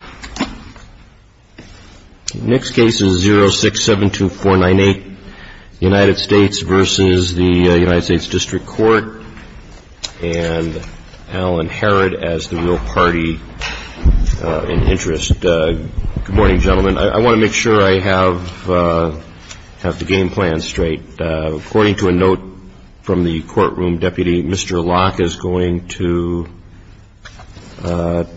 Good morning, gentlemen. I want to make sure I have the game plan straight. According to my notes from the courtroom, Deputy, Mr. Locke is going to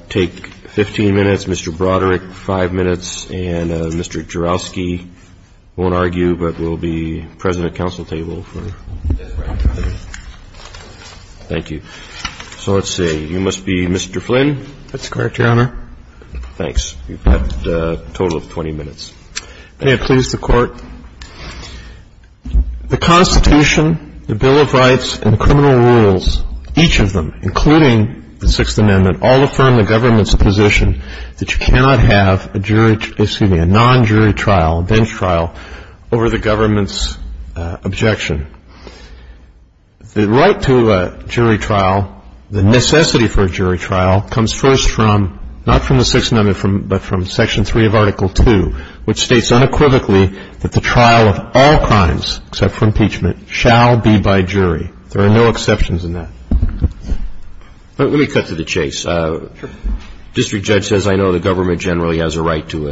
take 15 minutes, Mr. Broderick 5 minutes, and Mr. Jourowsky won't argue, but will be president of the council table for this round. Thank you. So let's see. You must be Mr. Flynn? That's correct, Your Honor. Thanks. You've got a total of 20 minutes. May it please the Court. The Constitution, the Bill of Rights, and the criminal rules, each of them, including the Sixth Amendment, all affirm the government's position that you cannot have a non-jury trial, a bench trial, over the government's objection. The right to a jury trial, the necessity for a jury trial, comes first from, not from the that the trial of all crimes, except for impeachment, shall be by jury. There are no exceptions in that. Let me cut to the chase. District Judge says, I know the government generally has a right to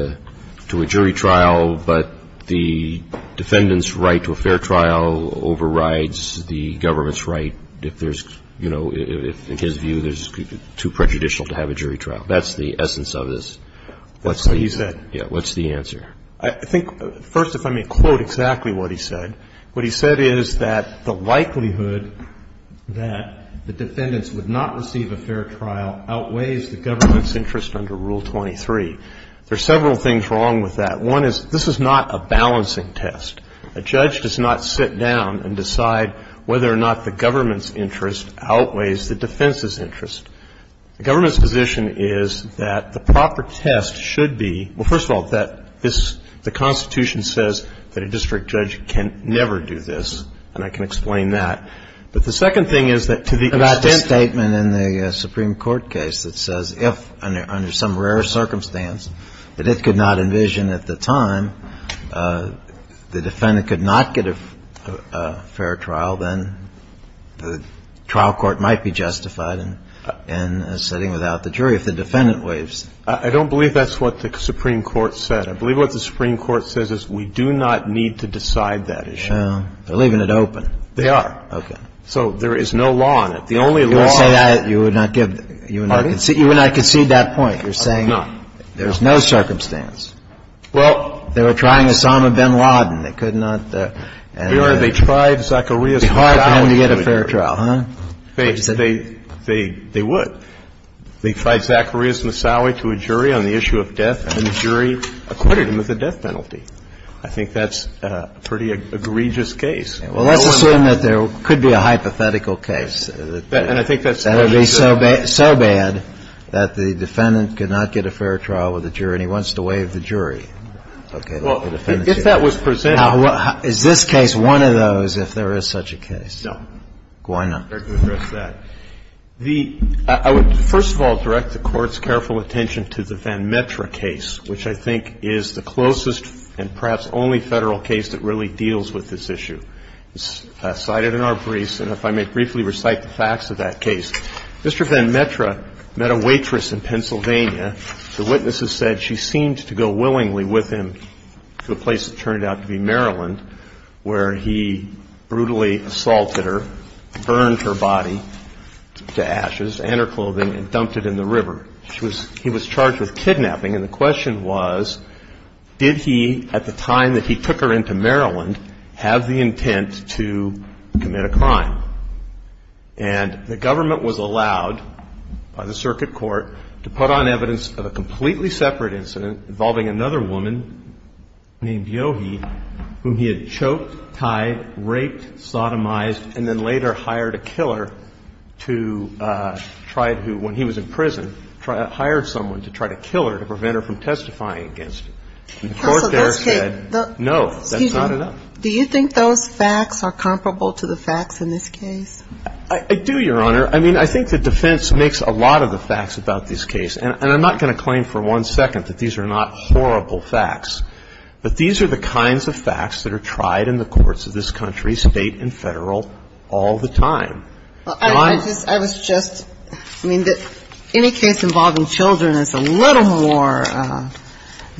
a jury trial, but the defendant's right to a fair trial overrides the government's right if there's, you know, in his view, there's too prejudicial to have a jury trial. That's the essence of this. That's what he said. Yeah. What's the answer? I think, first, if I may quote exactly what he said. What he said is that the likelihood that the defendants would not receive a fair trial outweighs the government's interest under Rule 23. There are several things wrong with that. One is, this is not a balancing test. A judge does not sit down and decide whether or not the government's interest outweighs the defense's interest. The government's position is that the proper test should be, well, first of all, that this, the Constitution says that a district judge can never do this, and I can explain that. But the second thing is that to the extent that About the statement in the Supreme Court case that says if, under some rare circumstance, that it could not envision at the time, the defendant could not get a fair trial, then the trial court might be justified in sitting without the jury if the defendant waives it. I don't believe that's what the Supreme Court said. I believe what the Supreme Court says is we do not need to decide that issue. Well, they're leaving it open. They are. Okay. So there is no law on it. The only law on it You would not concede that point. You're saying there's no circumstance. Well, They were trying Osama bin Laden. They could not Your Honor, they tried Zacharias Moussaoui. It would be hard for him to get a fair trial, huh? They would. They tried Zacharias Moussaoui to a jury on the issue of death, and the jury acquitted him of the death penalty. I think that's a pretty egregious case. Well, let's assume that there could be a hypothetical case. And I think that's what they said. That would be so bad that the defendant could not get a fair trial with the jury, and he wants to waive the jury. Okay. Well, if that was presented Now, is this case one of those, if there is such a case? No. Why not? I would first of all direct the Court's careful attention to the Van Metra case, which I think is the closest and perhaps only Federal case that really deals with this issue. It's cited in our briefs. And if I may briefly recite the facts of that case. Mr. Van Metra met a waitress in Pennsylvania. The witness has said she seemed to go willingly with him to a place that turned out to be Maryland, where he brutally assaulted her, burned her body to ashes and her clothing, and dumped it in the river. She was he was charged with kidnapping. And the question was, did he, at the time that he took her into Maryland, have the intent to commit a crime? And the government was allowed by the circuit court to put on evidence of a completely separate incident involving another woman named Yohi, whom he had choked, tied, raped, sodomized, and then later hired a killer to try to, when he was in prison, hired someone to try to kill her to prevent her from testifying against him. And the court there said, no, that's not enough. Do you think those facts are comparable to the facts in this case? I do, Your Honor. I mean, I think the defense makes a lot of the facts about this case. And I'm not going to claim for one second that these are not horrible facts. But these are the kinds of facts that are tried in the courts of this country, state and federal, all the time. Well, I was just, I mean, any case involving children is a little more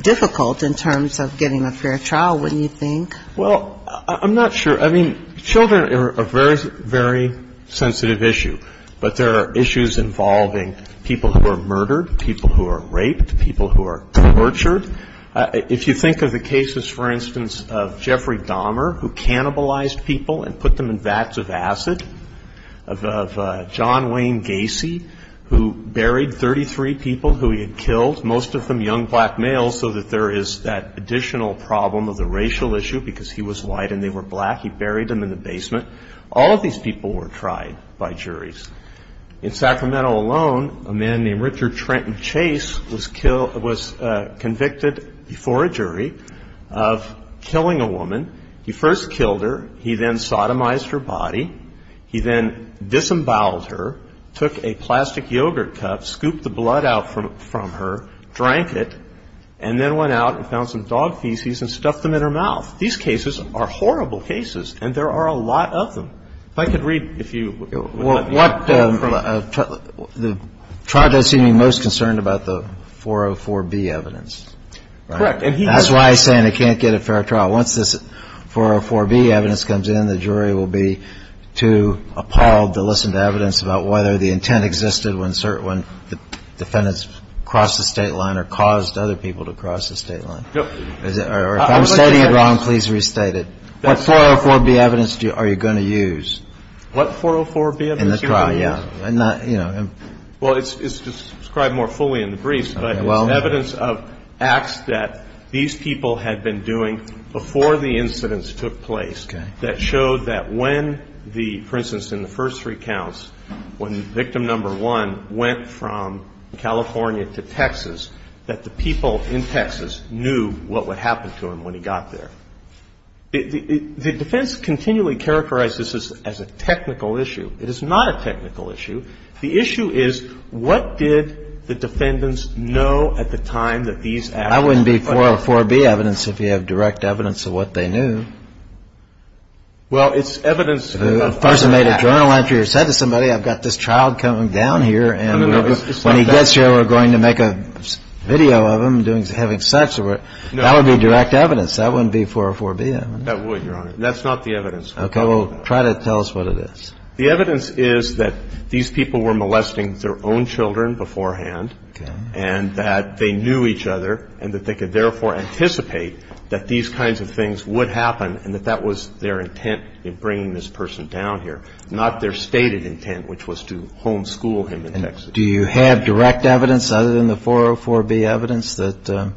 difficult in terms of getting a fair trial, wouldn't you think? Well, I'm not sure. I mean, children are a very, very sensitive issue. But there are issues involving people who are murdered, people who are raped, people who are tortured. If you think of the cases, for instance, of Jeffrey Dahmer, who cannibalized people and put them in vats of acid, of John Wayne Gacy, who buried 33 people who he had killed, most of them young black males, so that there is that additional problem of the racial issue, because he was white and they were black, he buried them in the basement. All of these people were tried by juries. In Sacramento alone, a man named Richard Trenton Chase was convicted before a jury of killing a woman. He first killed her, he then sodomized her body, he then disemboweled her, took a plastic yogurt cup, scooped the blood out from her, drank it, and then went out and found some dog feces and stuffed them in her mouth. These cases are horrible cases, and there are a lot of them. If I could read, if you would let me. What, the trial does seem to be most concerned about the 404B evidence. Correct. That's why I said I can't get a fair trial. Once this 404B evidence comes in, the jury will be too appalled to listen to evidence about whether the intent existed when the defendants crossed the state line or caused other people to cross the state line. If I'm stating it wrong, please restate it. What 404B evidence are you going to use? What 404B evidence are you going to use? In the trial, yeah. Well, it's described more fully in the briefs, but it's evidence of acts that these people had been doing before the incidents took place that showed that when the, for instance, in the first three counts, when victim number one went from to what would happen to him when he got there. The defense continually characterizes this as a technical issue. It is not a technical issue. The issue is what did the defendants know at the time that these actions took place? That wouldn't be 404B evidence if you have direct evidence of what they knew. Well, it's evidence of a person's act. If a person made a journal entry or said to somebody, I've got this child coming down here, and when he gets here, we're going to make a video of him having sex, that would be direct evidence. That wouldn't be 404B evidence. That would, Your Honor. That's not the evidence. Okay. Well, try to tell us what it is. The evidence is that these people were molesting their own children beforehand and that they knew each other and that they could therefore anticipate that these kinds of things would happen and that that was their intent in bringing this person down here, not their stated intent, which was to homeschool him in Texas. Do you have direct evidence other than the 404B evidence that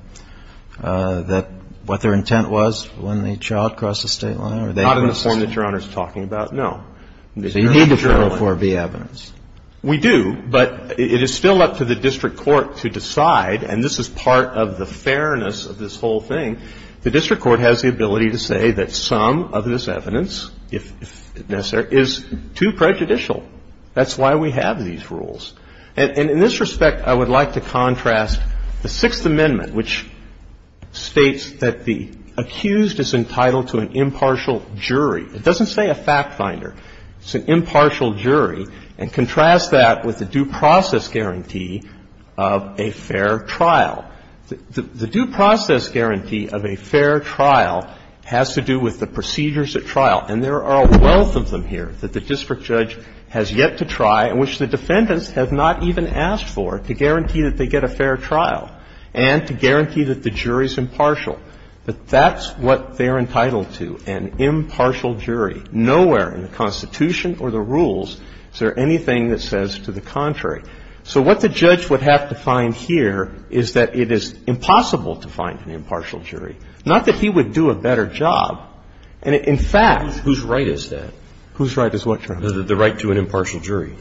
what their intent was when the child crossed the state line? Not in the form that Your Honor is talking about, no. So you need the 404B evidence. We do, but it is still up to the district court to decide, and this is part of the fairness of this whole thing. The district court has the ability to say that some of this evidence, if necessary, is too prejudicial. That's why we have these rules. And in this respect, I would like to contrast the Sixth Amendment, which states that the accused is entitled to an impartial jury. It doesn't say a fact finder. It's an impartial jury, and contrast that with the due process guarantee of a fair trial. The due process guarantee of a fair trial has to do with the procedures at trial, and there are a wealth of them here that the district judge has yet to try and which the defendants have not even asked for to guarantee that they get a fair trial and to guarantee that the jury's impartial, but that's what they're entitled to, an impartial jury. Nowhere in the Constitution or the rules is there anything that says to the contrary. So what the judge would have to find here is that it is impossible to find an impartial jury, not that he would do a better job. And in fact the right to an impartial jury.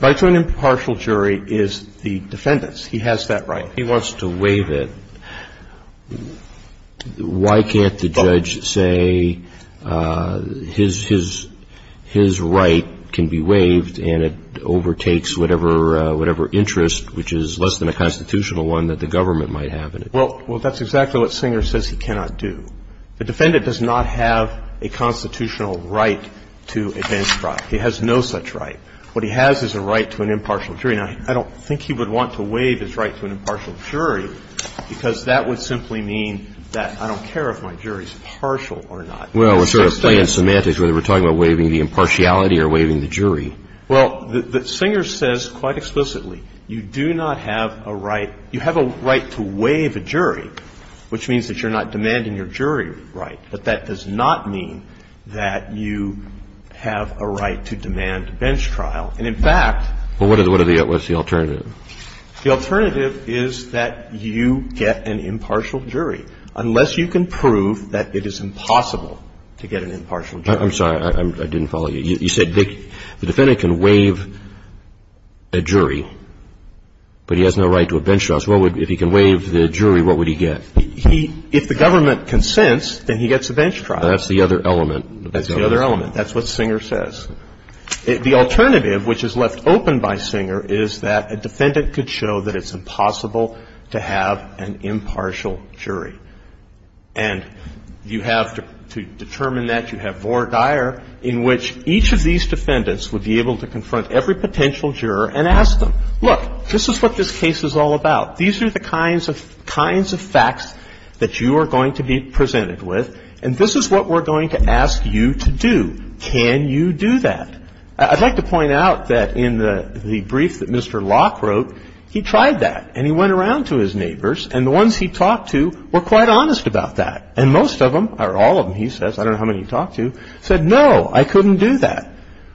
An impartial jury is the defendant's. He has that right. If he wants to waive it, why can't the judge say his right can be waived and it overtakes whatever interest, which is less than a constitutional one, that the government might have in it? Well, that's exactly what Singer says he cannot do. The defendant does not have a constitutional right to advance trial. He has no such right. What he has is a right to an impartial jury. Now, I don't think he would want to waive his right to an impartial jury because that would simply mean that I don't care if my jury's partial or not. Well, we're sort of playing semantics whether we're talking about waiving the impartiality or waiving the jury. Well, Singer says quite explicitly, you do not have a right, you have a right to waive a jury, which means that you're not demanding your jury right, but that does not mean that you have a right to demand a bench trial. And, in fact What's the alternative? The alternative is that you get an impartial jury, unless you can prove that it is impossible to get an impartial jury. I'm sorry, I didn't follow you. You said the defendant can waive a jury, but he has no right to a bench trial. So if he can waive the jury, what would he get? If the government consents, then he gets a bench trial. That's the other element. That's the other element. That's what Singer says. The alternative, which is left open by Singer, is that a defendant could show that it's impossible to have an impartial jury. And you have to determine that. You have Vore Dyer, in which each of these defendants would be able to confront every potential juror and ask them, look, this is what this case is all about. These are the kinds of facts that you are going to be presented with, and this is what we're going to ask you to do. Can you do that? I'd like to point out that in the brief that Mr. Locke wrote, he tried that, and he went around to his neighbors, and the ones he talked to were quite honest about that. And most of them, or all of them, he says, I don't know how many he talked to, said, no, I couldn't do that,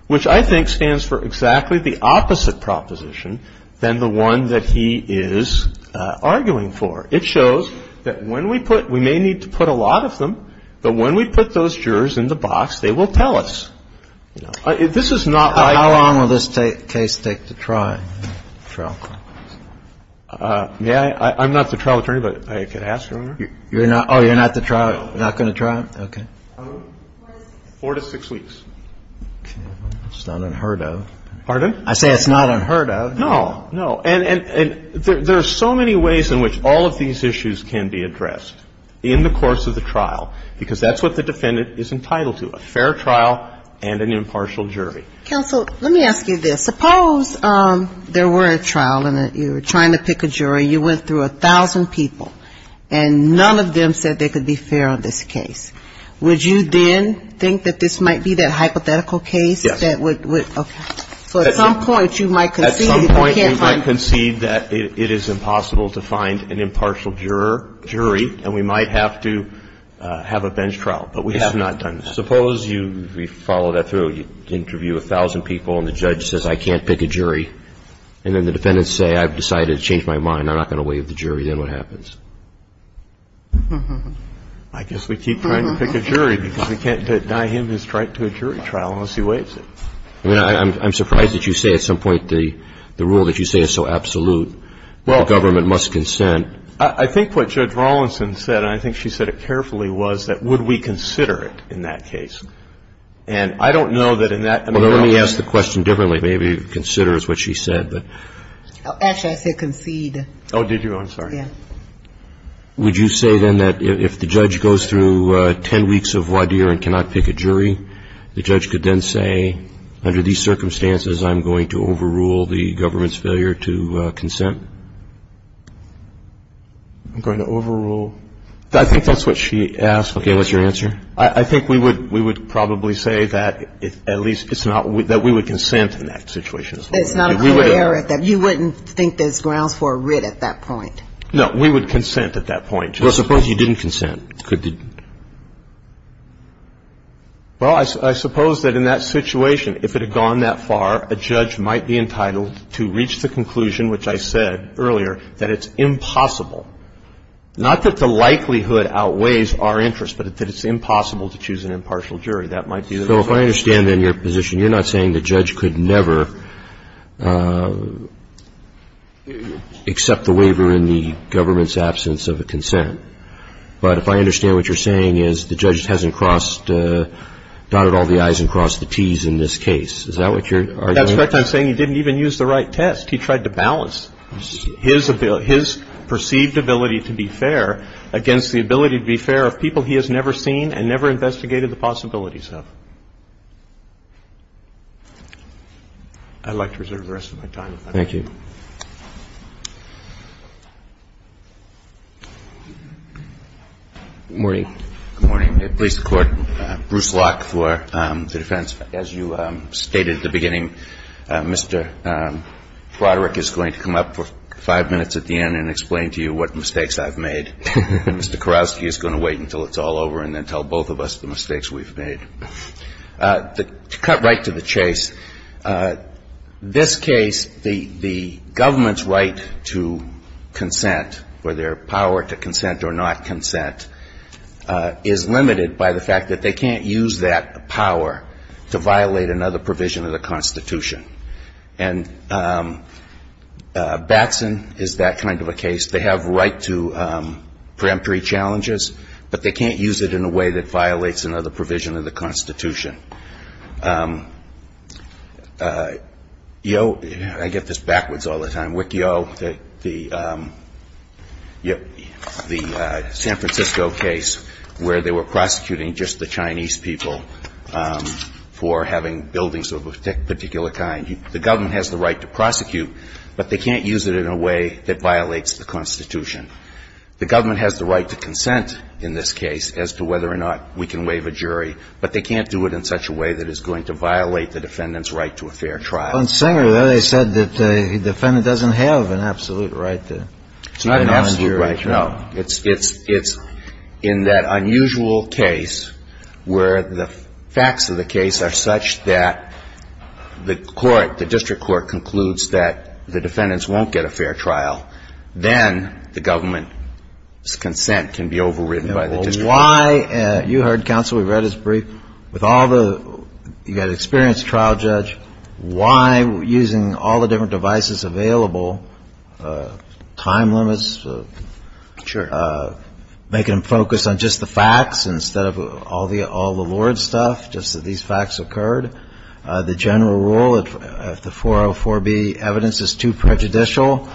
which I think stands for exactly the opposite proposition than the one that he is arguing for. It shows that when we put we may need to put a lot of them, but when we put those jurors in the box, they will tell us. This is not like the case. Kennedy. How long will this case take to trial? May I? I'm not the trial attorney, but I could ask her. Oh, you're not going to trial? Okay. Four to six weeks. That's not unheard of. Pardon? I say it's not unheard of. No. And there's so many ways in which all of these issues can be addressed in the course of the trial, because that's what the defendant is entitled to, a fair trial and an impartial jury. Counsel, let me ask you this. Suppose there were a trial and you were trying to pick a jury. You went through 1,000 people, and none of them said they could be fair on this case. Would you then think that this might be that hypothetical case that would, okay. So at some point, you might concede that you can't find. At some point, you might concede that it is impossible to find an impartial jury, and we might have to have a bench trial, but we have not done that. Suppose you follow that through. You interview 1,000 people, and the judge says, I can't pick a jury, and then the defendants say, I've decided to change my mind, I'm not going to waive the jury, then what happens? I guess we keep trying to pick a jury because we can't deny him his right to a jury trial unless he waives it. I mean, I'm surprised that you say at some point the rule that you say is so absolute the government must consent. Well, I think what Judge Rawlinson said, and I think she said it carefully, was that would we consider it in that case. And I don't know that in that case. Well, let me ask the question differently. Maybe consider is what she said, but. Actually, I said concede. Oh, did you? I'm sorry. Yeah. Would you say then that if the judge goes through 10 weeks of voir dire and cannot pick a jury, the judge could then say, under these circumstances, I'm going to overrule the government's failure to consent? I'm going to overrule. I think that's what she asked. Okay. What's your answer? I think we would probably say that at least it's not, that we would consent in that situation as well. It's not a clear error that you wouldn't think there's grounds for a writ at that point. No, we would consent at that point. Well, suppose you didn't consent. Well, I suppose that in that situation, if it had gone that far, a judge might be entitled to reach the conclusion, which I said earlier, that it's impossible, not that the likelihood outweighs our interest, but that it's impossible to choose an impartial jury. So if I understand in your position, you're not saying the judge could never accept the waiver in the government's absence of a consent. But if I understand what you're saying is the judge hasn't crossed, dotted all the I's and crossed the T's in this case. Is that what you're arguing? That's correct. I'm saying he didn't even use the right test. He tried to balance his perceived ability to be fair against the ability to be fair of people he has never seen and never investigated the possibilities of. I'd like to reserve the rest of my time. Thank you. Good morning. Good morning. Please, Court. Bruce Locke for the defense. As you stated at the beginning, Mr. Froderick is going to come up for five minutes at the end and explain to you what mistakes I've made. Mr. Kurowski is going to wait until it's all over and then tell both of us the mistakes we've made. The government's right to consent, or their power to consent or not consent, is limited by the fact that they can't use that power to violate another provision of the Constitution. And Batson is that kind of a case. They have right to preemptory challenges, but they can't use it in a way that violates another provision of the Constitution. You know, I get this backwards all the time. Wick Yo, the San Francisco case where they were prosecuting just the Chinese people for having buildings of a particular kind. The government has the right to prosecute, but they can't use it in a way that violates the Constitution. The government has the right to consent in this case as to whether or not we can violate the defendant's right to a fair trial. On Singer, though, they said that the defendant doesn't have an absolute right. It's not an absolute right, no. It's in that unusual case where the facts of the case are such that the court, the district court, concludes that the defendants won't get a fair trial, then the government's consent can be overridden by the district court. Why? You heard counsel. We read his brief. With all the, you got an experienced trial judge. Why, using all the different devices available, time limits? Sure. Making them focus on just the facts instead of all the Lord stuff, just that these facts occurred. The general rule of the 404B evidence is too prejudicial,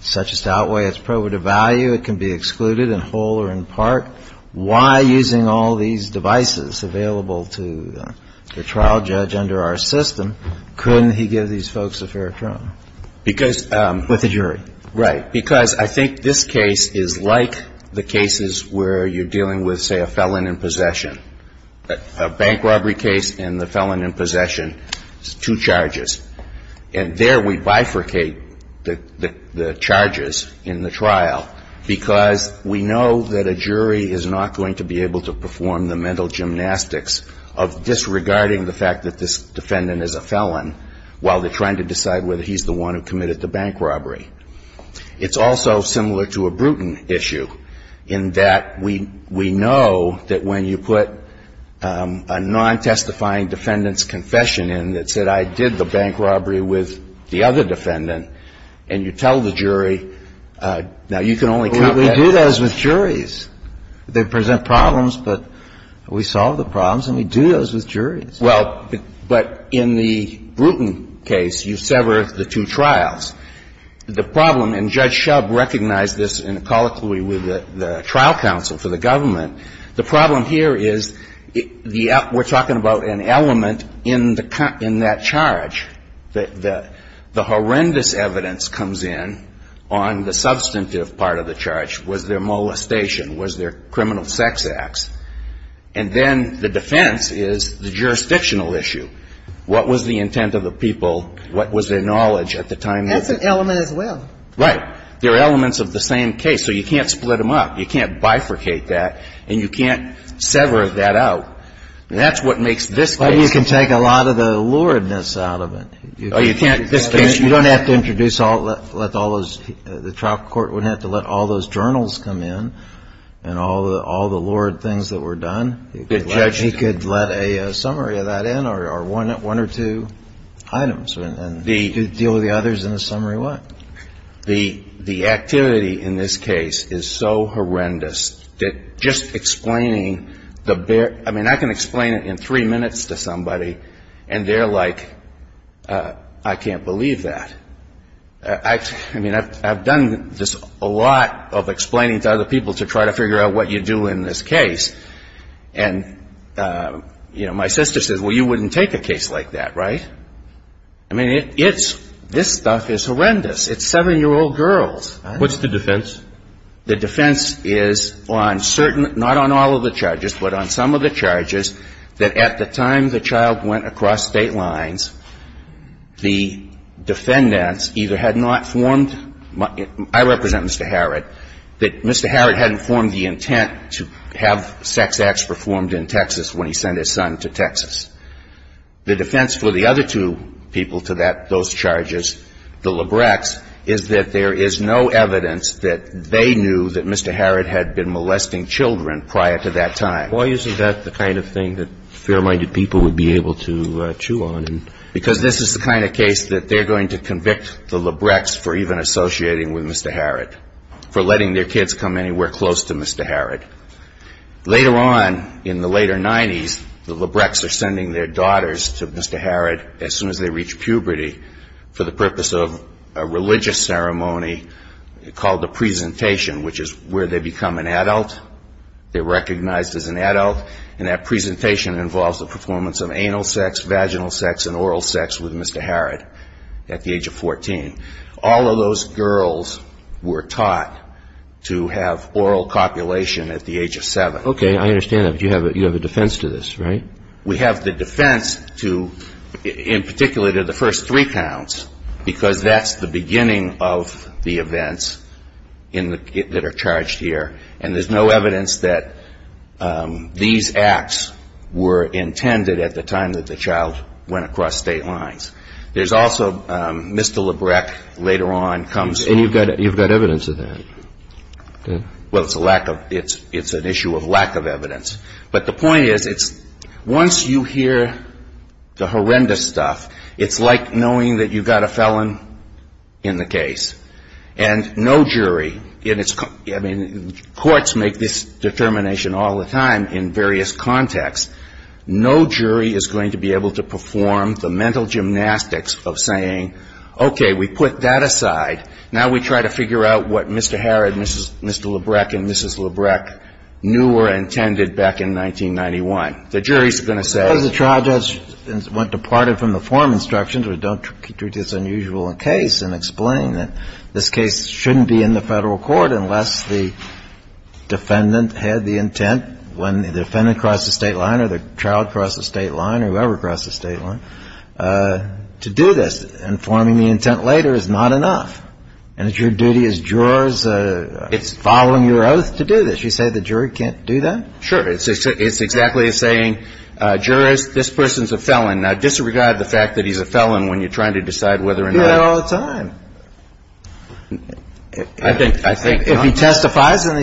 such as to outweigh its probative value. It can be excluded in whole or in part. Why, using all these devices available to the trial judge under our system, couldn't he give these folks a fair trial? With a jury. Right. Because I think this case is like the cases where you're dealing with, say, a felon in possession. A bank robbery case and the felon in possession, two charges. And there we bifurcate the charges in the trial because we know that a jury is not going to be able to perform the mental gymnastics of disregarding the fact that this defendant is a felon while they're trying to decide whether he's the one who committed the bank robbery. It's also similar to a Bruton issue in that we know that when you put a non-testifying defendant's confession in and you say, I did the bank robbery with the other defendant, and you tell the jury, now you can only count that. We do those with juries. They present problems, but we solve the problems and we do those with juries. Well, but in the Bruton case, you sever the two trials. The problem, and Judge Shubb recognized this in colloquy with the trial counsel for the government, the problem here is we're talking about an element in that charge. The horrendous evidence comes in on the substantive part of the charge. Was there molestation? Was there criminal sex acts? And then the defense is the jurisdictional issue. What was the intent of the people? What was their knowledge at the time? That's an element as well. Right. They're elements of the same case, so you can't split them up. You can't bifurcate that. And you can't sever that out. And that's what makes this case. Well, you can take a lot of the luredness out of it. Oh, you can't? You don't have to introduce all those. The trial court wouldn't have to let all those journals come in and all the lured things that were done. The judge. He could let a summary of that in or one or two items and deal with the others in a summary what. The activity in this case is so horrendous that just explaining the bare. I mean, I can explain it in three minutes to somebody and they're like, I can't believe that. I mean, I've done this a lot of explaining to other people to try to figure out what you do in this case. And, you know, my sister says, well, you wouldn't take a case like that, right? I mean, it's this stuff is horrendous. It's seven-year-old girls. What's the defense? The defense is on certain, not on all of the charges, but on some of the charges, that at the time the child went across state lines, the defendants either had not formed, I represent Mr. Harrod, that Mr. Harrod hadn't formed the intent to have sex acts performed in Texas when he sent his son to Texas. The defense for the other two people to that, those charges, the Labreck's, is that there is no evidence that they knew that Mr. Harrod had been molesting children prior to that time. Why is that the kind of thing that fair-minded people would be able to chew on? Because this is the kind of case that they're going to convict the Labreck's for even associating with Mr. Harrod, for letting their kids come anywhere close to Mr. Harrod. Later on, in the later 90s, the Labreck's are sending their daughters to Mr. Harrod as soon as they reach puberty for the purpose of a religious ceremony called the presentation, which is where they become an adult. They're recognized as an adult and that presentation involves the performance of anal sex, vaginal sex and oral sex with Mr. Harrod at the age of 14. All of those girls were taught to have oral copulation at the age of 7. Okay, I understand that, but you have a defense to this, right? We have the defense to, in particular, to the first three counts because that's the beginning of the events that are charged here and there's no evidence that these acts were intended at the time that the child went across state lines. There's also Mr. Labreck later on comes... And you've got evidence of that? Well, it's an issue of lack of evidence. But the point is, once you hear the horrendous stuff, it's like knowing that you've got a felon in the case and no jury... I mean, courts make this determination all the time in various contexts. No jury is going to be able to perform the mental gymnastics of saying, okay, we put that aside, now we try to figure out what Mr. Harrod and Mr. Labreck and Mrs. Labreck knew were intended back in 1991. The jury's going to say... Because the trial judge went departed from the form instructions, we don't treat this as an unusual case and explain that this case shouldn't be in the federal court unless the defendant had the intent when the defendant crossed the state line or the child crossed the state line or whoever crossed the state line to do this. And forming the intent later is not enough. And it's your duty as jurors following your oath to do this. You say the jury can't do that? Sure. It's exactly as saying, jurors, this person's a felon. Now, disregard the fact that he's a felon when you're trying to decide whether or not... We do that all the time. If he testifies and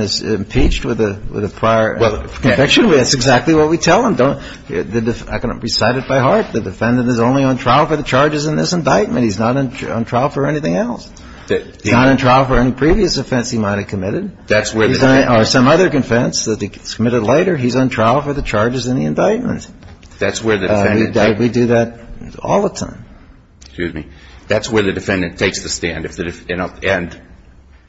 is impeached with a prior conviction, that's exactly what we tell him. I can recite it by heart. The defendant is only on trial for the charges in this indictment. He's not on trial for anything else. He's not on trial for any previous offense he might have committed or some other offense that he committed later. He's on trial for the charges in the indictment. We do that all the time. That's where the defendant takes the stand. And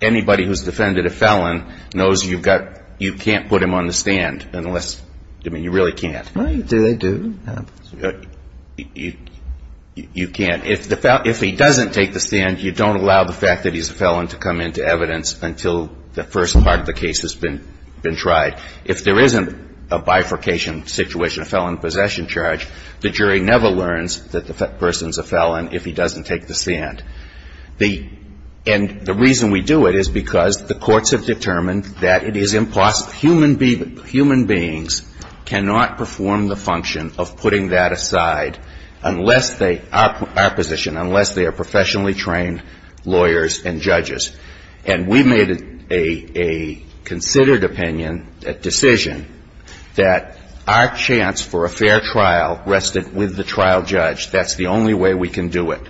anybody who's defended a felon knows you can't put him on the stand unless... I mean, you really can't. Well, they do. You can't. If he doesn't take the stand, you don't allow the fact that he's a felon to come into evidence until the first part of the case has been tried. If there isn't a bifurcation situation, a felon in possession charge, the jury never learns that the person's a felon if he doesn't take the stand. And the reason we do it is because the courts have determined that it is impossible. Human beings cannot perform the function of putting that aside unless they, our position, unless they are professionally trained lawyers and judges. And we made a considered opinion, a decision that our chance for a fair trial rested with the trial judge. That's the only way we can do it.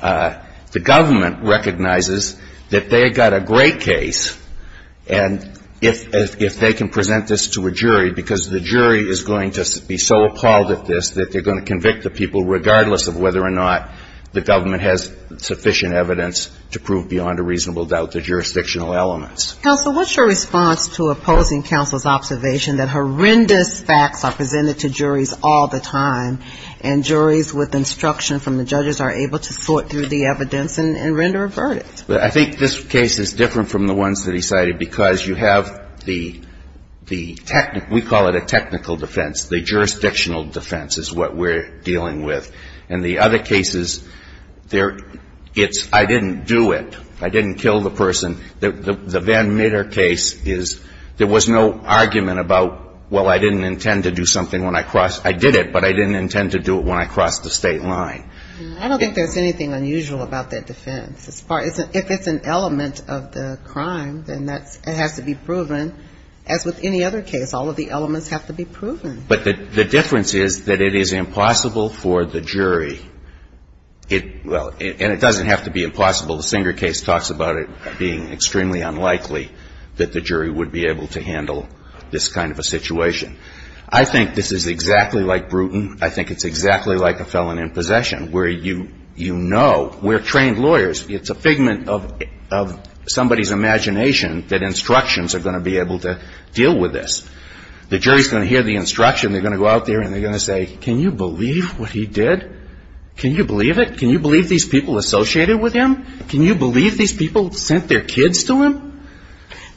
The government recognizes that they've got a great case and if they can present this to a jury because the jury is going to be so appalled at this that they're going to convict the people regardless of whether or not the government has sufficient evidence to prove beyond a reasonable doubt the jurisdictional elements. Counsel, what's your response to opposing counsel's observation that horrendous facts are presented to juries all the time and juries with instruction from the judges are able to sort through the evidence and render a verdict? I think this case is different from the ones that he cited because you have the we call it a technical defense. The jurisdictional defense is what we're dealing with. And the other cases, it's I didn't do it. I didn't kill the person. The Van Mitter case is there was no argument about well, I didn't intend to do something when I crossed I did it, but I didn't intend to do it when I crossed the state line. I don't think there's anything unusual about that defense. If it's an element of the crime, then that has to be proven. But the difference is that it is impossible for the jury and it doesn't have to be impossible. The Singer case talks about it being extremely unlikely that the jury would be able to handle this kind of a situation. I think this is exactly like Bruton. I think it's exactly like a felon in possession where you know we're trained lawyers. It's a figment of somebody's imagination that instructions are going to be able to deal with this. The jury's going to hear the instruction. They're going to go out there and they're going to say, can you believe what he did? Can you believe it? Can you believe these people associated with him? Can you believe these people sent their kids to him?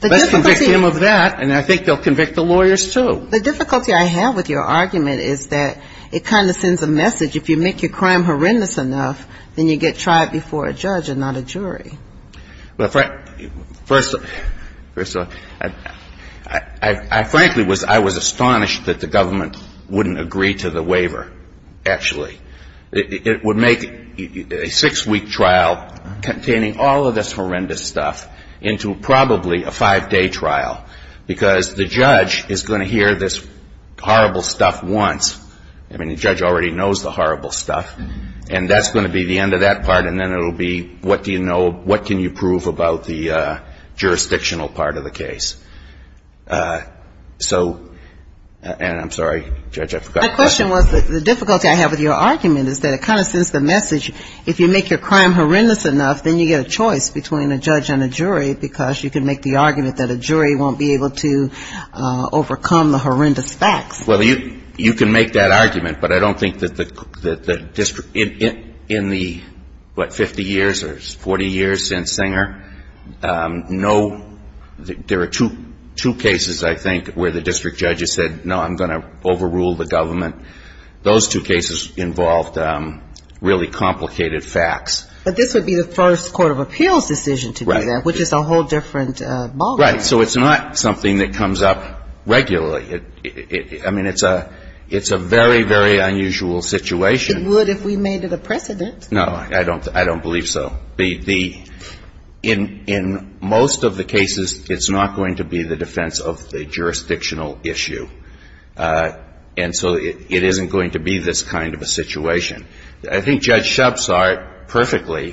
Let's convict him of that and I think they'll convict the lawyers too. The difficulty I have with your argument is that it kind of sends a message. If you make your crime horrendous enough, then you get tried before a judge and not a jury. Well, first of all, I frankly was astonished that the government wouldn't agree to the waiver actually. It would make a six-week trial containing all of this horrendous stuff into probably a five-day trial because the judge is going to hear this horrible stuff once. I mean the judge already knows the horrible stuff and that's going to be the end of that part and then it'll be what do you know, what can you prove about the jurisdictional part of the case? So, and I'm sorry, Judge, I forgot. My question was, the difficulty I have with your argument is that it kind of sends the message if you make your crime horrendous enough, then you get a choice between a judge and a jury because you can make the argument that a jury won't be able to overcome the horrendous facts. Well, you can make that argument, but I don't think that in the what, 50 years or 40 years since Singer, no, there are two cases I think where the district judge has said, no, I'm going to overrule the government. Those two cases involved really complicated facts. But this would be the first Court of Appeals decision to do that, which is a whole different model. Right, so it's not something that comes up regularly. I mean it's a very, very unusual situation. It would if we made it a precedent. No, I don't believe so. In most of the cases, it's not going to be the defense of the jurisdictional issue. And so it isn't going to be this kind of a situation. I think Judge Shub saw it perfectly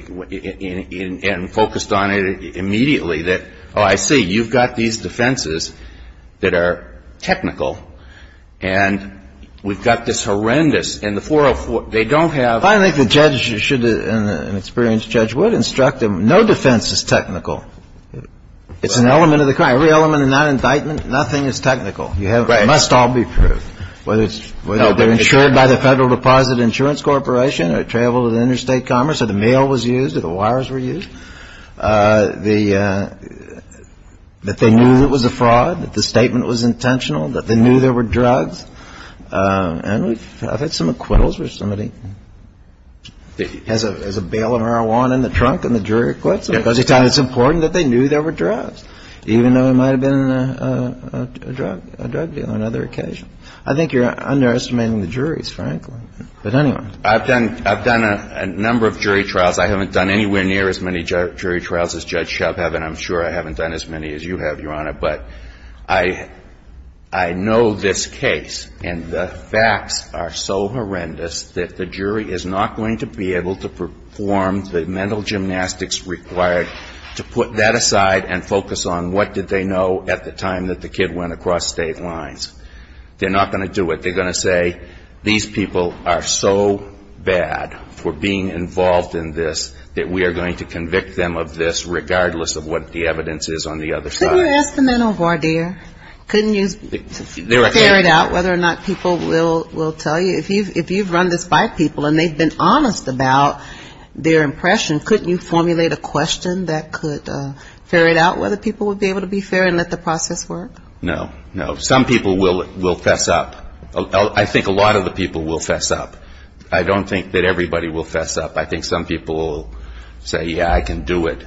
and focused on it immediately that, oh, I see, you've got these defenses that are technical and we've got this horrendous, and the 404, they don't have... I think the judge should and an experienced judge would instruct them, no defense is technical. It's an element of the crime. Every element of non-indictment, nothing is technical. It must all be proved. Whether it's insured by the Federal Deposit Insurance Corporation or it traveled to the interstate commerce or the mail was used or the wires were used. The that they knew it was a fraud, that the statement was intentional, that they knew there were drugs. And we've had some acquittals where somebody has a bail of marijuana in the trunk and the jury acquits them. It's important that they knew there were drugs, even though it might have been a drug deal on another occasion. I think you're underestimating the juries, frankly. But anyway. I've done a number of jury trials. I haven't done anywhere near as many jury trials as Judge Shub has and I'm sure I haven't done as many as you have, Your Honor, but I know this case and the facts are so horrendous that the jury is not going to be able to perform the mental gymnastics required to put that aside and focus on what did they know at the time that the kid went across state lines. They're not going to do it. They're going to say, these people are so bad for being involved in this that we are going to convict them of this regardless of what the evidence is on the other side. Couldn't you ferret out whether or not people will tell you, if you've run this by people and they've been honest about their impression, couldn't you formulate a question that could ferret out whether people would be able to be fair and let the process work? No. Some people will fess up. I think a lot of the people will fess up. I don't think that everybody will fess up. I think some people will say, yeah, I can do it.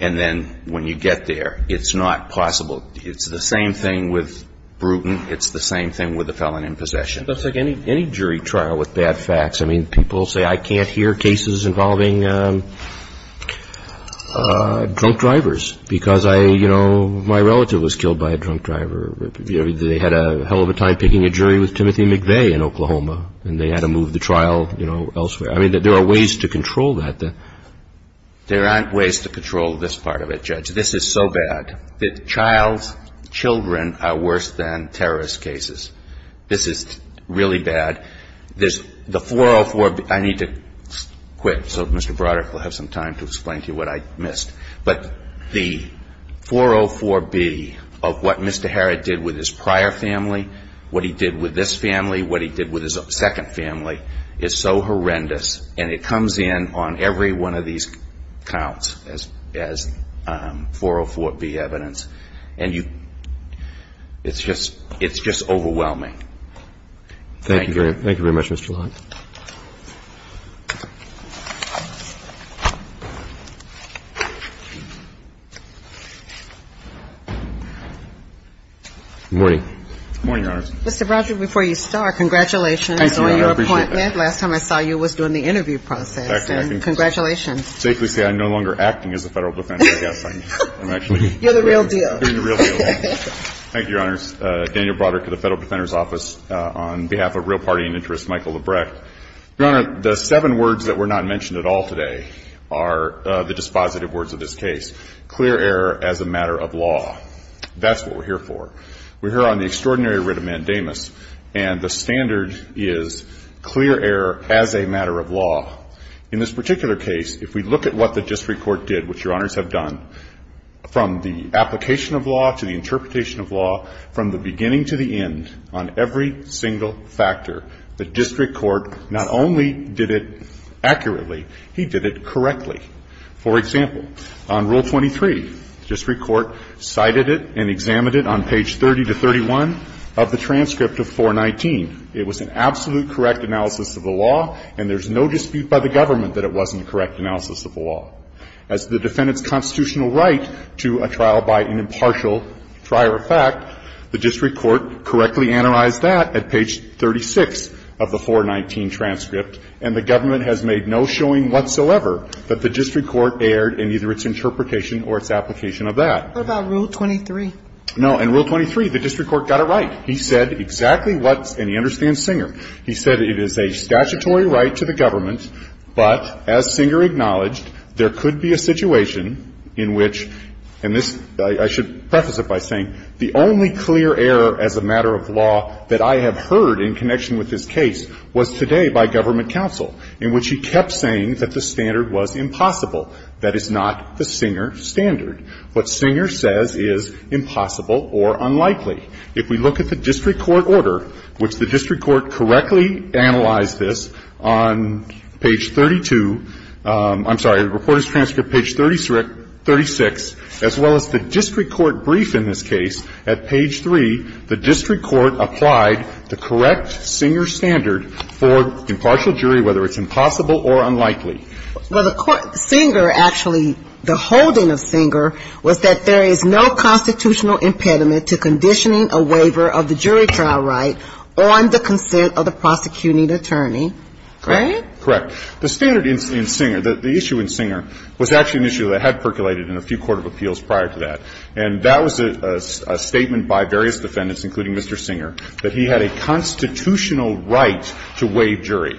And then when you get there, it's not possible. It's the same thing with Bruton. It's the same thing with a felon in possession. It's like any jury trial with bad facts. I mean, people say, I can't hear cases involving drunk drivers because I, you know, my relative was killed by a drunk driver. They had a hell of a time picking a jury with Timothy McVeigh in Oklahoma and they had to move the trial elsewhere. I mean, there are ways to control that. There aren't ways to control this part of it, Judge. This is so bad that child's children are worse than terrorist cases. This is really bad. The 404B, I need to quit so Mr. Broderick will have some time to explain to you what I missed. But the 404B of what Mr. Harrod did with his prior family, what he did with this family, what he did with his second family, is so horrendous and it comes in on every one of these counts as 404B evidence. And you, it's just overwhelming. Thank you. Thank you very much, Mr. Harrod. Good morning. Good morning, Your Honor. Mr. Broderick, before you start, congratulations on your appointment. Thank you, Your Honor. I appreciate that. Last time I saw you was during the interview process. And congratulations. I can safely say I'm no longer acting as a Federal Defender. Yes, I'm actually doing the real deal. You're the real deal. Thank you, Your Honor. Daniel Broderick of the Federal Defender's Office on behalf of Real Party and Interest, Michael Lebrecht. Your Honor, the seven words that were not mentioned at all today are the dispositive words of this case. Clear error as a matter of law. That's what we're here for. We're here on the extraordinary writ of mandamus. And the standard is clear error as a matter of law. In this particular case, if we look at what the district court did, which Your Honors have done, from the application of law to the interpretation of law, from the beginning to the end, on every single factor, the district court not only did it accurately, he did it correctly. For example, on Rule 23, the district court cited it and examined it on page 30 to 31 of the transcript of 419. It was an absolute correct analysis of the law, and there's no dispute by the government that it wasn't a correct analysis of the law. As the defendant's constitutional right to a trial by an impartial prior effect, the district court correctly analyzed that at page 36 of the 419 transcript, and the government has made no showing whatsoever that the district court erred in either its interpretation or its application of that. What about Rule 23? No. In Rule 23, the district court got it right. He said exactly what's, and he understands Singer, he said it is a statutory right to the government, but as Singer acknowledged, there could be a situation in which and this, I should preface it by saying, the only clear error as a matter of law that I have heard in connection with this case was today by government counsel, in which he kept saying that the standard was impossible. That is not the Singer standard. What Singer says is impossible or unlikely. If we look at the district court order, which the district court correctly analyzed this on page 32 I'm sorry, the reporter's transcript page 36, as well as the district court brief in this case, at page 3, the district court applied the correct Singer standard for impartial jury, whether it's a constitutional impediment to conditioning a waiver of the jury trial right on the consent of the prosecuting attorney. Correct? Correct. The standard in Singer, the issue in Singer was actually an issue that had percolated in a few court of appeals prior to that. And that was a statement by various defendants, including Mr. Singer, that he had a constitutional right to waive jury.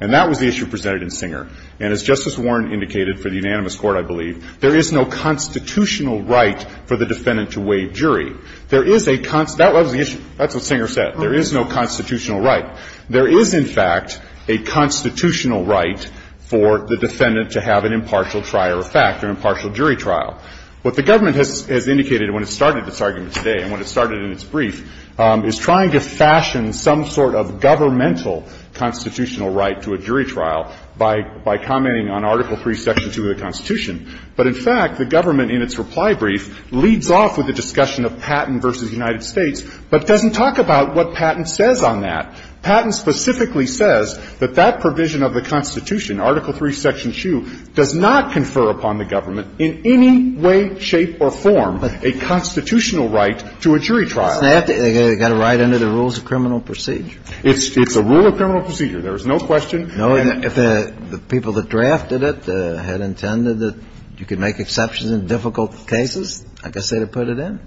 And that was the issue presented in Singer. And as Justice Warren indicated for the unanimous court, I believe, there is no constitutional right for the defendant to waive jury. There is a const- that was the issue. That's what Singer said. There is no constitutional right. There is, in fact, a constitutional right for the defendant to have an impartial trial or fact, an impartial jury trial. What the government has indicated when it started this argument today, and when it started in its brief, is trying to fashion some sort of governmental constitutional right to a jury trial by commenting on Article 3, Section 2 of the Constitution. But, in fact, the government, in its reply brief, leads off with a discussion of Patent v. United States, but doesn't talk about what Patent says on that. Patent specifically says that that provision of the Constitution, Article 3, Section 2, does not confer upon the government in any way, shape, or form a constitutional right to a jury trial. They've got a right under the rules of criminal procedure. It's a rule of criminal procedure. There's no question. No. If the people that drafted it had intended that you could make exceptions in difficult cases, I guess they would have put it in.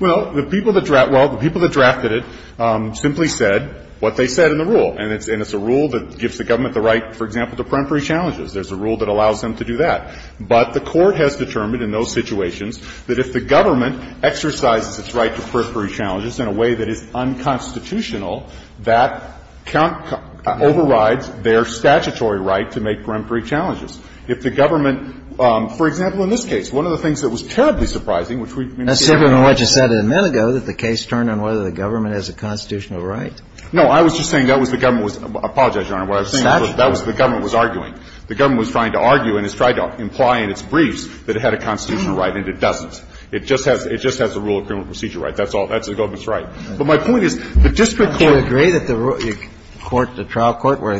Well, the people that drafted it simply said what they said in the rule. And it's a rule that gives the government the right, for example, to periphery challenges. There's a rule that allows them to do that. But the Court has determined in those situations that if the government exercises its right to periphery challenges in a way that is unconstitutional, that can't override their statutory right to make periphery challenges. If the government, for example, in this case, one of the things that was terribly surprising, which we've been seeing. That's different from what you said a minute ago, that the case turned on whether the government has a constitutional right. No. I was just saying that was the government was arguing. The government was trying to argue and has tried to imply in its briefs that it had a constitutional right, and it doesn't. It just has a rule of criminal procedure right. That's all. That's the government's right. But my point is the district court. Do you agree that the court, the trial court where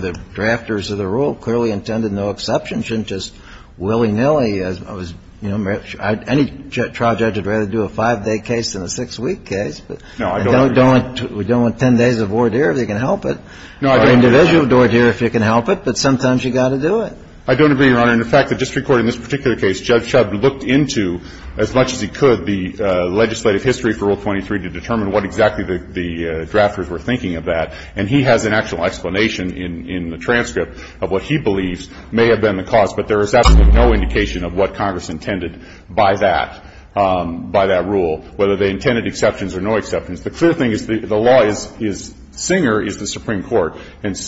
the drafters of the rule clearly intended, no exception, shouldn't just willy-nilly, you know, any trial judge would rather do a five-day case than a six-week case? No, I don't agree. We don't want 10 days of voir dire if they can help it. No, I don't agree. Individual voir dire if they can help it, but sometimes you've got to do it. I don't agree, Your Honor. And the fact that district court in this particular case, Judge Shub looked into, as much as he could, the legislative history for Rule 23 to determine what exactly the drafters were thinking of that, and he has an actual explanation in the transcript of what he believes may have been the cause, but there is absolutely no indication of what Congress intended by that, by that rule, whether they intended exceptions or no exceptions. The clear thing is the law is Singer is the judge. And the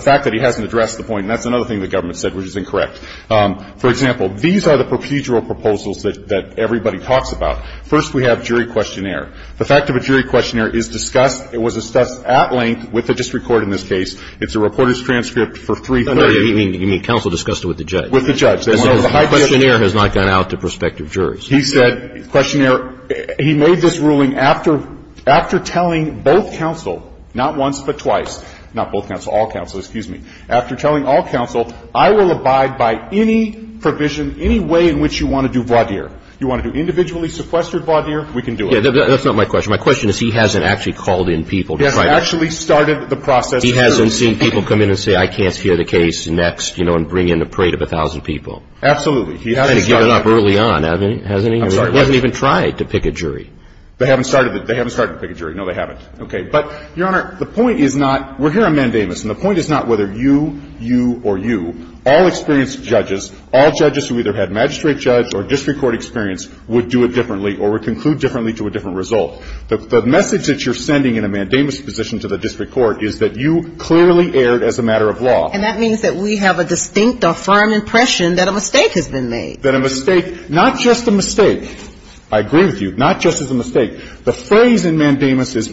fact that he hasn't addressed the point, and that's another thing the government said, which is incorrect. For example, these are the procedural proposals that everybody talks about. First, we have jury questionnaire. The fact of a jury questionnaire is discussed. It was discussed at length with the district court in this case. It's a reporter's transcript for 330. It was discussed at length with the district court in this case. It was discussed at length with the judge. With the judge. The questionnaire has not gone out to prospective juries. He said, questionnaire, he made this ruling after telling both counsel, not once but twice, not both counsel, all counsel, excuse me. After telling all counsel, I will abide by any provision, any way in which you want to do voir dire. You want to do individually sequestered voir dire, we can do it. That's not my question. My question is he hasn't actually called in people. He hasn't actually started the process. He hasn't seen people come in and say, I can't hear the case next and bring in a parade of a thousand people. Absolutely. He hasn't given up early on, hasn't he? I'm sorry. He hasn't even tried to pick a jury. They haven't started to pick a jury. No, they haven't. Okay. But, Your Honor, the point is not, we're here on mandamus, and the point is not whether you, you or you, all experienced judges, all judges who either had magistrate judge or district court experience would do it differently or would conclude differently to a different result. The message that you're sending in a mandamus position to the district court is that you clearly erred as a matter of law. And that means that we have a distinct or firm impression that a mistake has been made. That a mistake, not just a mistake. I agree with you. Not just as a mistake. The phrase in mandamus is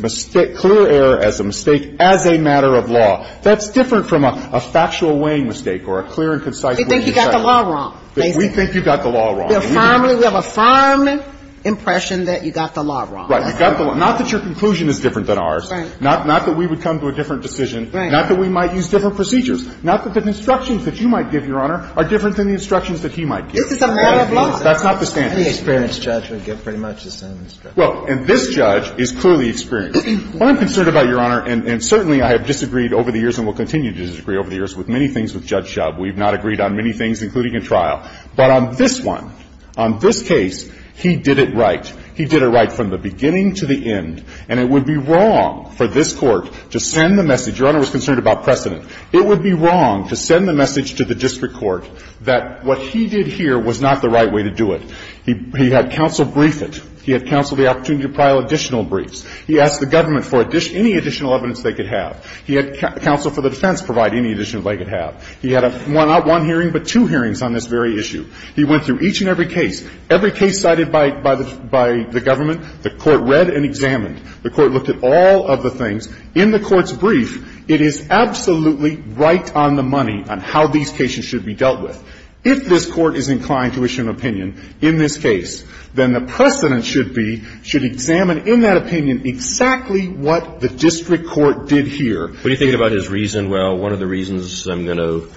clear error as a mistake as a matter of law. That's different from a factual weighing mistake or a clear and concise way to decide. We think you got the law wrong. We think you got the law wrong. We firmly, we have a firm impression that you got the law wrong. Right. You got the law. Not that your conclusion is different than ours. Right. Not that we would come to a different decision. Right. Not that we might use different procedures. Not that the instructions that you might give, Your Honor, are different than the instructions that he might give. This is a matter of law. That's not the standard. Any experienced judge would give pretty much the same instructions. Well, and this judge is clearly experienced. What I'm concerned about, Your Honor, and certainly I have disagreed over the years and will continue to disagree over the years with many things with Judge Shub, we've not agreed on many things, including in trial. But on this one, on this case, he did it right. He did it right from the beginning to the end. And it would be wrong for this Court to send the message. Your Honor was concerned about precedent. It would be wrong to send the message to the district court that what he did here was not the right way to do it. He had counsel brief it. He had counsel the opportunity to file additional briefs. He asked the government for any additional evidence they could have. He had counsel for the defense provide any additional evidence they could have. He had not one hearing, but two hearings on this very issue. He went through each and every case. Every case cited by the government, the Court read and examined. The Court looked at all of the things. In the Court's brief, it is absolutely right on the money on how these cases should be dealt with. If this Court is inclined to issue an opinion in this case, then the precedent should be, should examine in that opinion exactly what the district court did here. What do you think about his reason? Well, one of the reasons I'm going to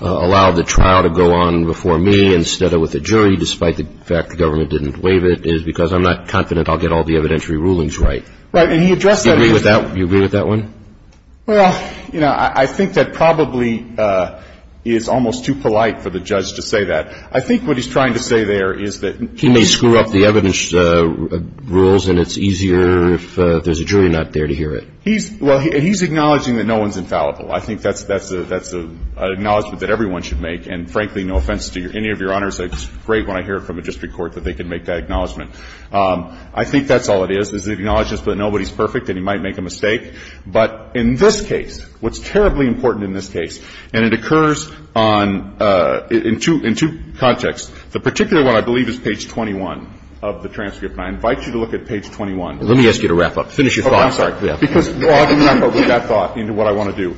allow the trial to go on before me instead of with the jury, despite the fact the government didn't waive it, is because I'm not confident I'll get all the evidentiary rulings right. Right. And he addressed that. Do you agree with that one? Well, you know, I think that probably is almost too polite for the judge to say that. I think what he's trying to say there is that he may screw up the evidence rules and it's easier if there's a jury not there to hear it. He's – well, he's acknowledging that no one's infallible. I think that's an acknowledgment that everyone should make. And frankly, no offense to any of Your Honors. It's great when I hear it from a district court that they can make that acknowledgment. I think that's all it is, is it acknowledges that nobody's perfect and he might make a mistake. But in this case, what's terribly important in this case, and it occurs on – in two contexts. The particular one, I believe, is page 21 of the transcript. And I invite you to look at page 21. Let me ask you to wrap up. Finish your thought. Okay. I'm sorry. Because I'm going to wrap up with that thought into what I want to do.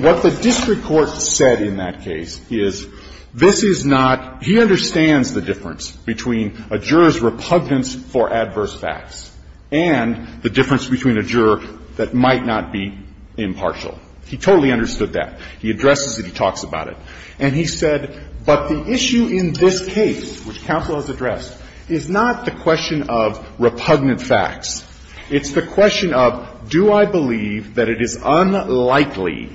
What the district court said in that case is this is not – he understands the difference between a juror's repugnance for adverse facts and the difference between a juror that might not be impartial. He totally understood that. He addresses it. He talks about it. And he said, but the issue in this case, which counsel has addressed, is not the question of repugnant facts. It's the question of do I believe that it is unlikely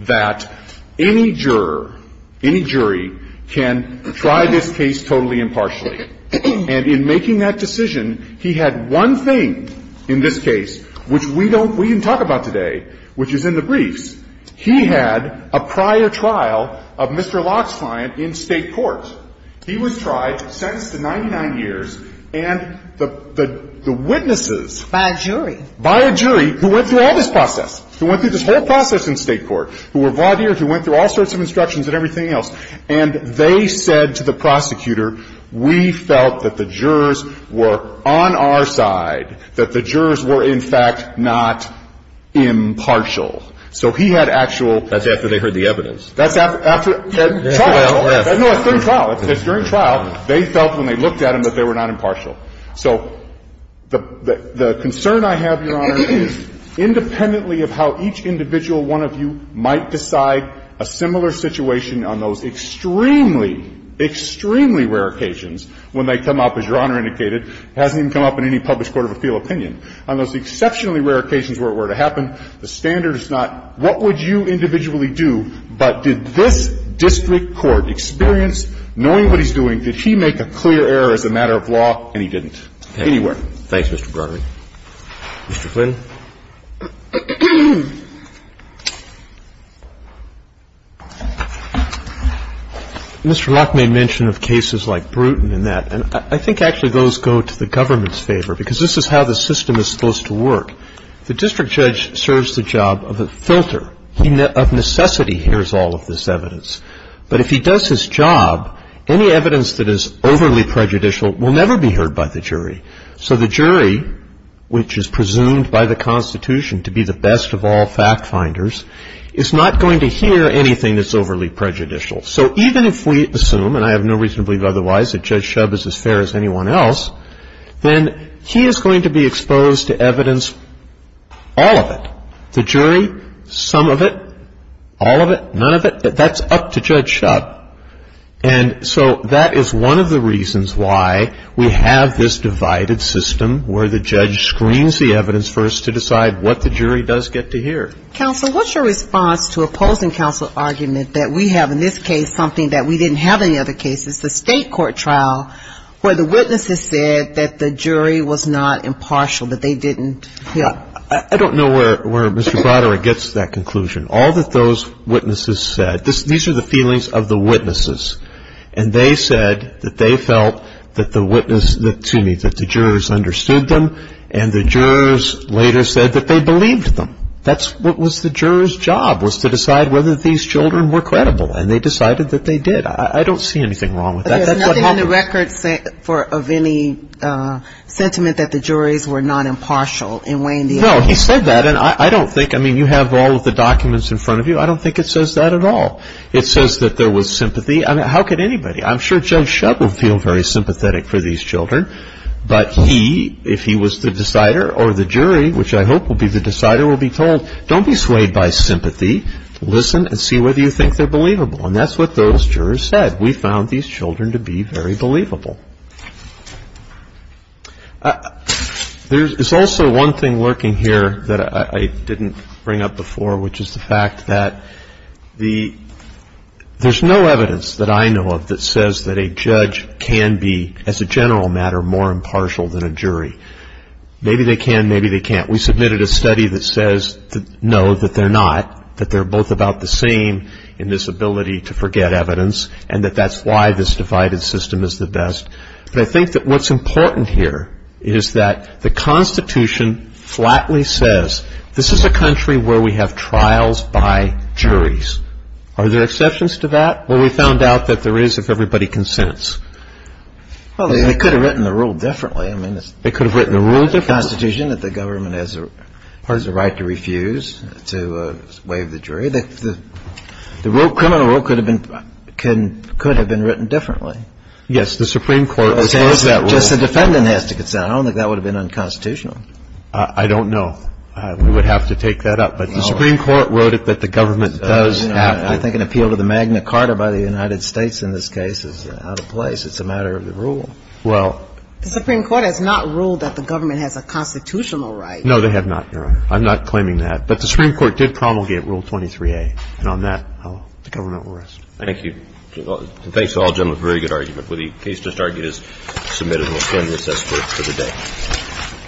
that any juror, any jury can try this case totally impartially. And in making that decision, he had one thing in this case, which we don't – we didn't talk about today, which is in the briefs. He had a prior trial of Mr. Locke's client in State court. He was tried, sentenced to 99 years, and the witnesses – By a jury. By a jury who went through all this process, who went through this whole process in State court, who were vaudeers, who went through all sorts of instructions and everything else. And they said to the prosecutor, we felt that the jurors were on our side, that the jurors were, in fact, not impartial. So he had actual – That's after they heard the evidence. That's after – trial. No, it's during trial. It's during trial. They felt when they looked at him that they were not impartial. So the concern I have, Your Honor, is independently of how each individual one of you might decide a similar situation on those extremely, extremely rare occasions when they come up, as Your Honor indicated, hasn't even come up in any published court of appeal opinion, on those exceptionally rare occasions where it were to happen, the standard is not what would you individually do, but did this district court experience, knowing what he's doing, did he make a clear error as a matter of law, and he didn't anywhere. Okay. Thanks, Mr. Broderick. Mr. Flynn. Mr. Locke made mention of cases like Bruton and that. And I think actually those go to the government's favor, because this is how the system is supposed to work. The district judge serves the job of a filter. He, of necessity, hears all of this evidence. But if he does his job, any evidence that is overly prejudicial will never be heard by the jury. So the jury, which is presumed by the Constitution to be the best of all fact-finders, is not going to hear anything that's overly prejudicial. So even if we assume, and I have no reason to believe otherwise, that Judge Shubb is as fair as anyone else, then he is going to be exposed to evidence, all of it. The jury, some of it, all of it, none of it. That's up to Judge Shubb. And so that is one of the reasons why we have this divided system where the judge screens the evidence for us to decide what the jury does get to hear. Counsel, what's your response to opposing counsel argument that we have in this case something that we didn't have in the other cases? The state court trial where the witnesses said that the jury was not impartial, that they didn't hear. I don't know where Mr. Broderick gets to that conclusion. All that those witnesses said, these are the feelings of the witnesses, and they said that they felt that the jurors understood them, and the jurors later said that they believed them. That's what was the jurors' job, was to decide whether these children were credible. And they decided that they did. I don't see anything wrong with that. There's nothing in the record of any sentiment that the juries were not impartial in weighing the evidence. No, he said that. And I don't think you have all of the documents in front of you. I don't think it says that at all. It says that there was sympathy. I mean, how could anybody? I'm sure Judge Shubb would feel very sympathetic for these children. But he, if he was the decider or the jury, which I hope will be the decider, will be told, don't be swayed by sympathy. Listen and see whether you think they're believable. And that's what those jurors said. We found these children to be very believable. There's also one thing lurking here that I didn't bring up before, which is the fact that there's no evidence that I know of that says that a judge can be, as a general matter, more impartial than a jury. Maybe they can, maybe they can't. We submitted a study that says, no, that they're not, that they're both about the same in this ability to forget evidence and that that's why this divided system is the best. But I think that what's important here is that the Constitution flatly says, this is a country where we have trials by juries. Are there exceptions to that? Well, we found out that there is if everybody consents. Well, they could have written the rule differently. They could have written the rule differently. The Constitution, that the government has the right to refuse to waive the jury. The criminal rule could have been written differently. Yes. The Supreme Court has heard that rule. Just the defendant has to consent. I don't think that would have been unconstitutional. I don't know. We would have to take that up. But the Supreme Court wrote it that the government does have to. I think an appeal to the Magna Carta by the United States in this case is out of place. It's a matter of the rule. Well. The Supreme Court has not ruled that the government has a constitutional right. No, they have not, Your Honor. I'm not claiming that. But the Supreme Court did promulgate Rule 23A. And on that, the government will rest. Thank you. Thanks to all gentlemen for a very good argument. The case just argued is submitted and will stand recess for the day.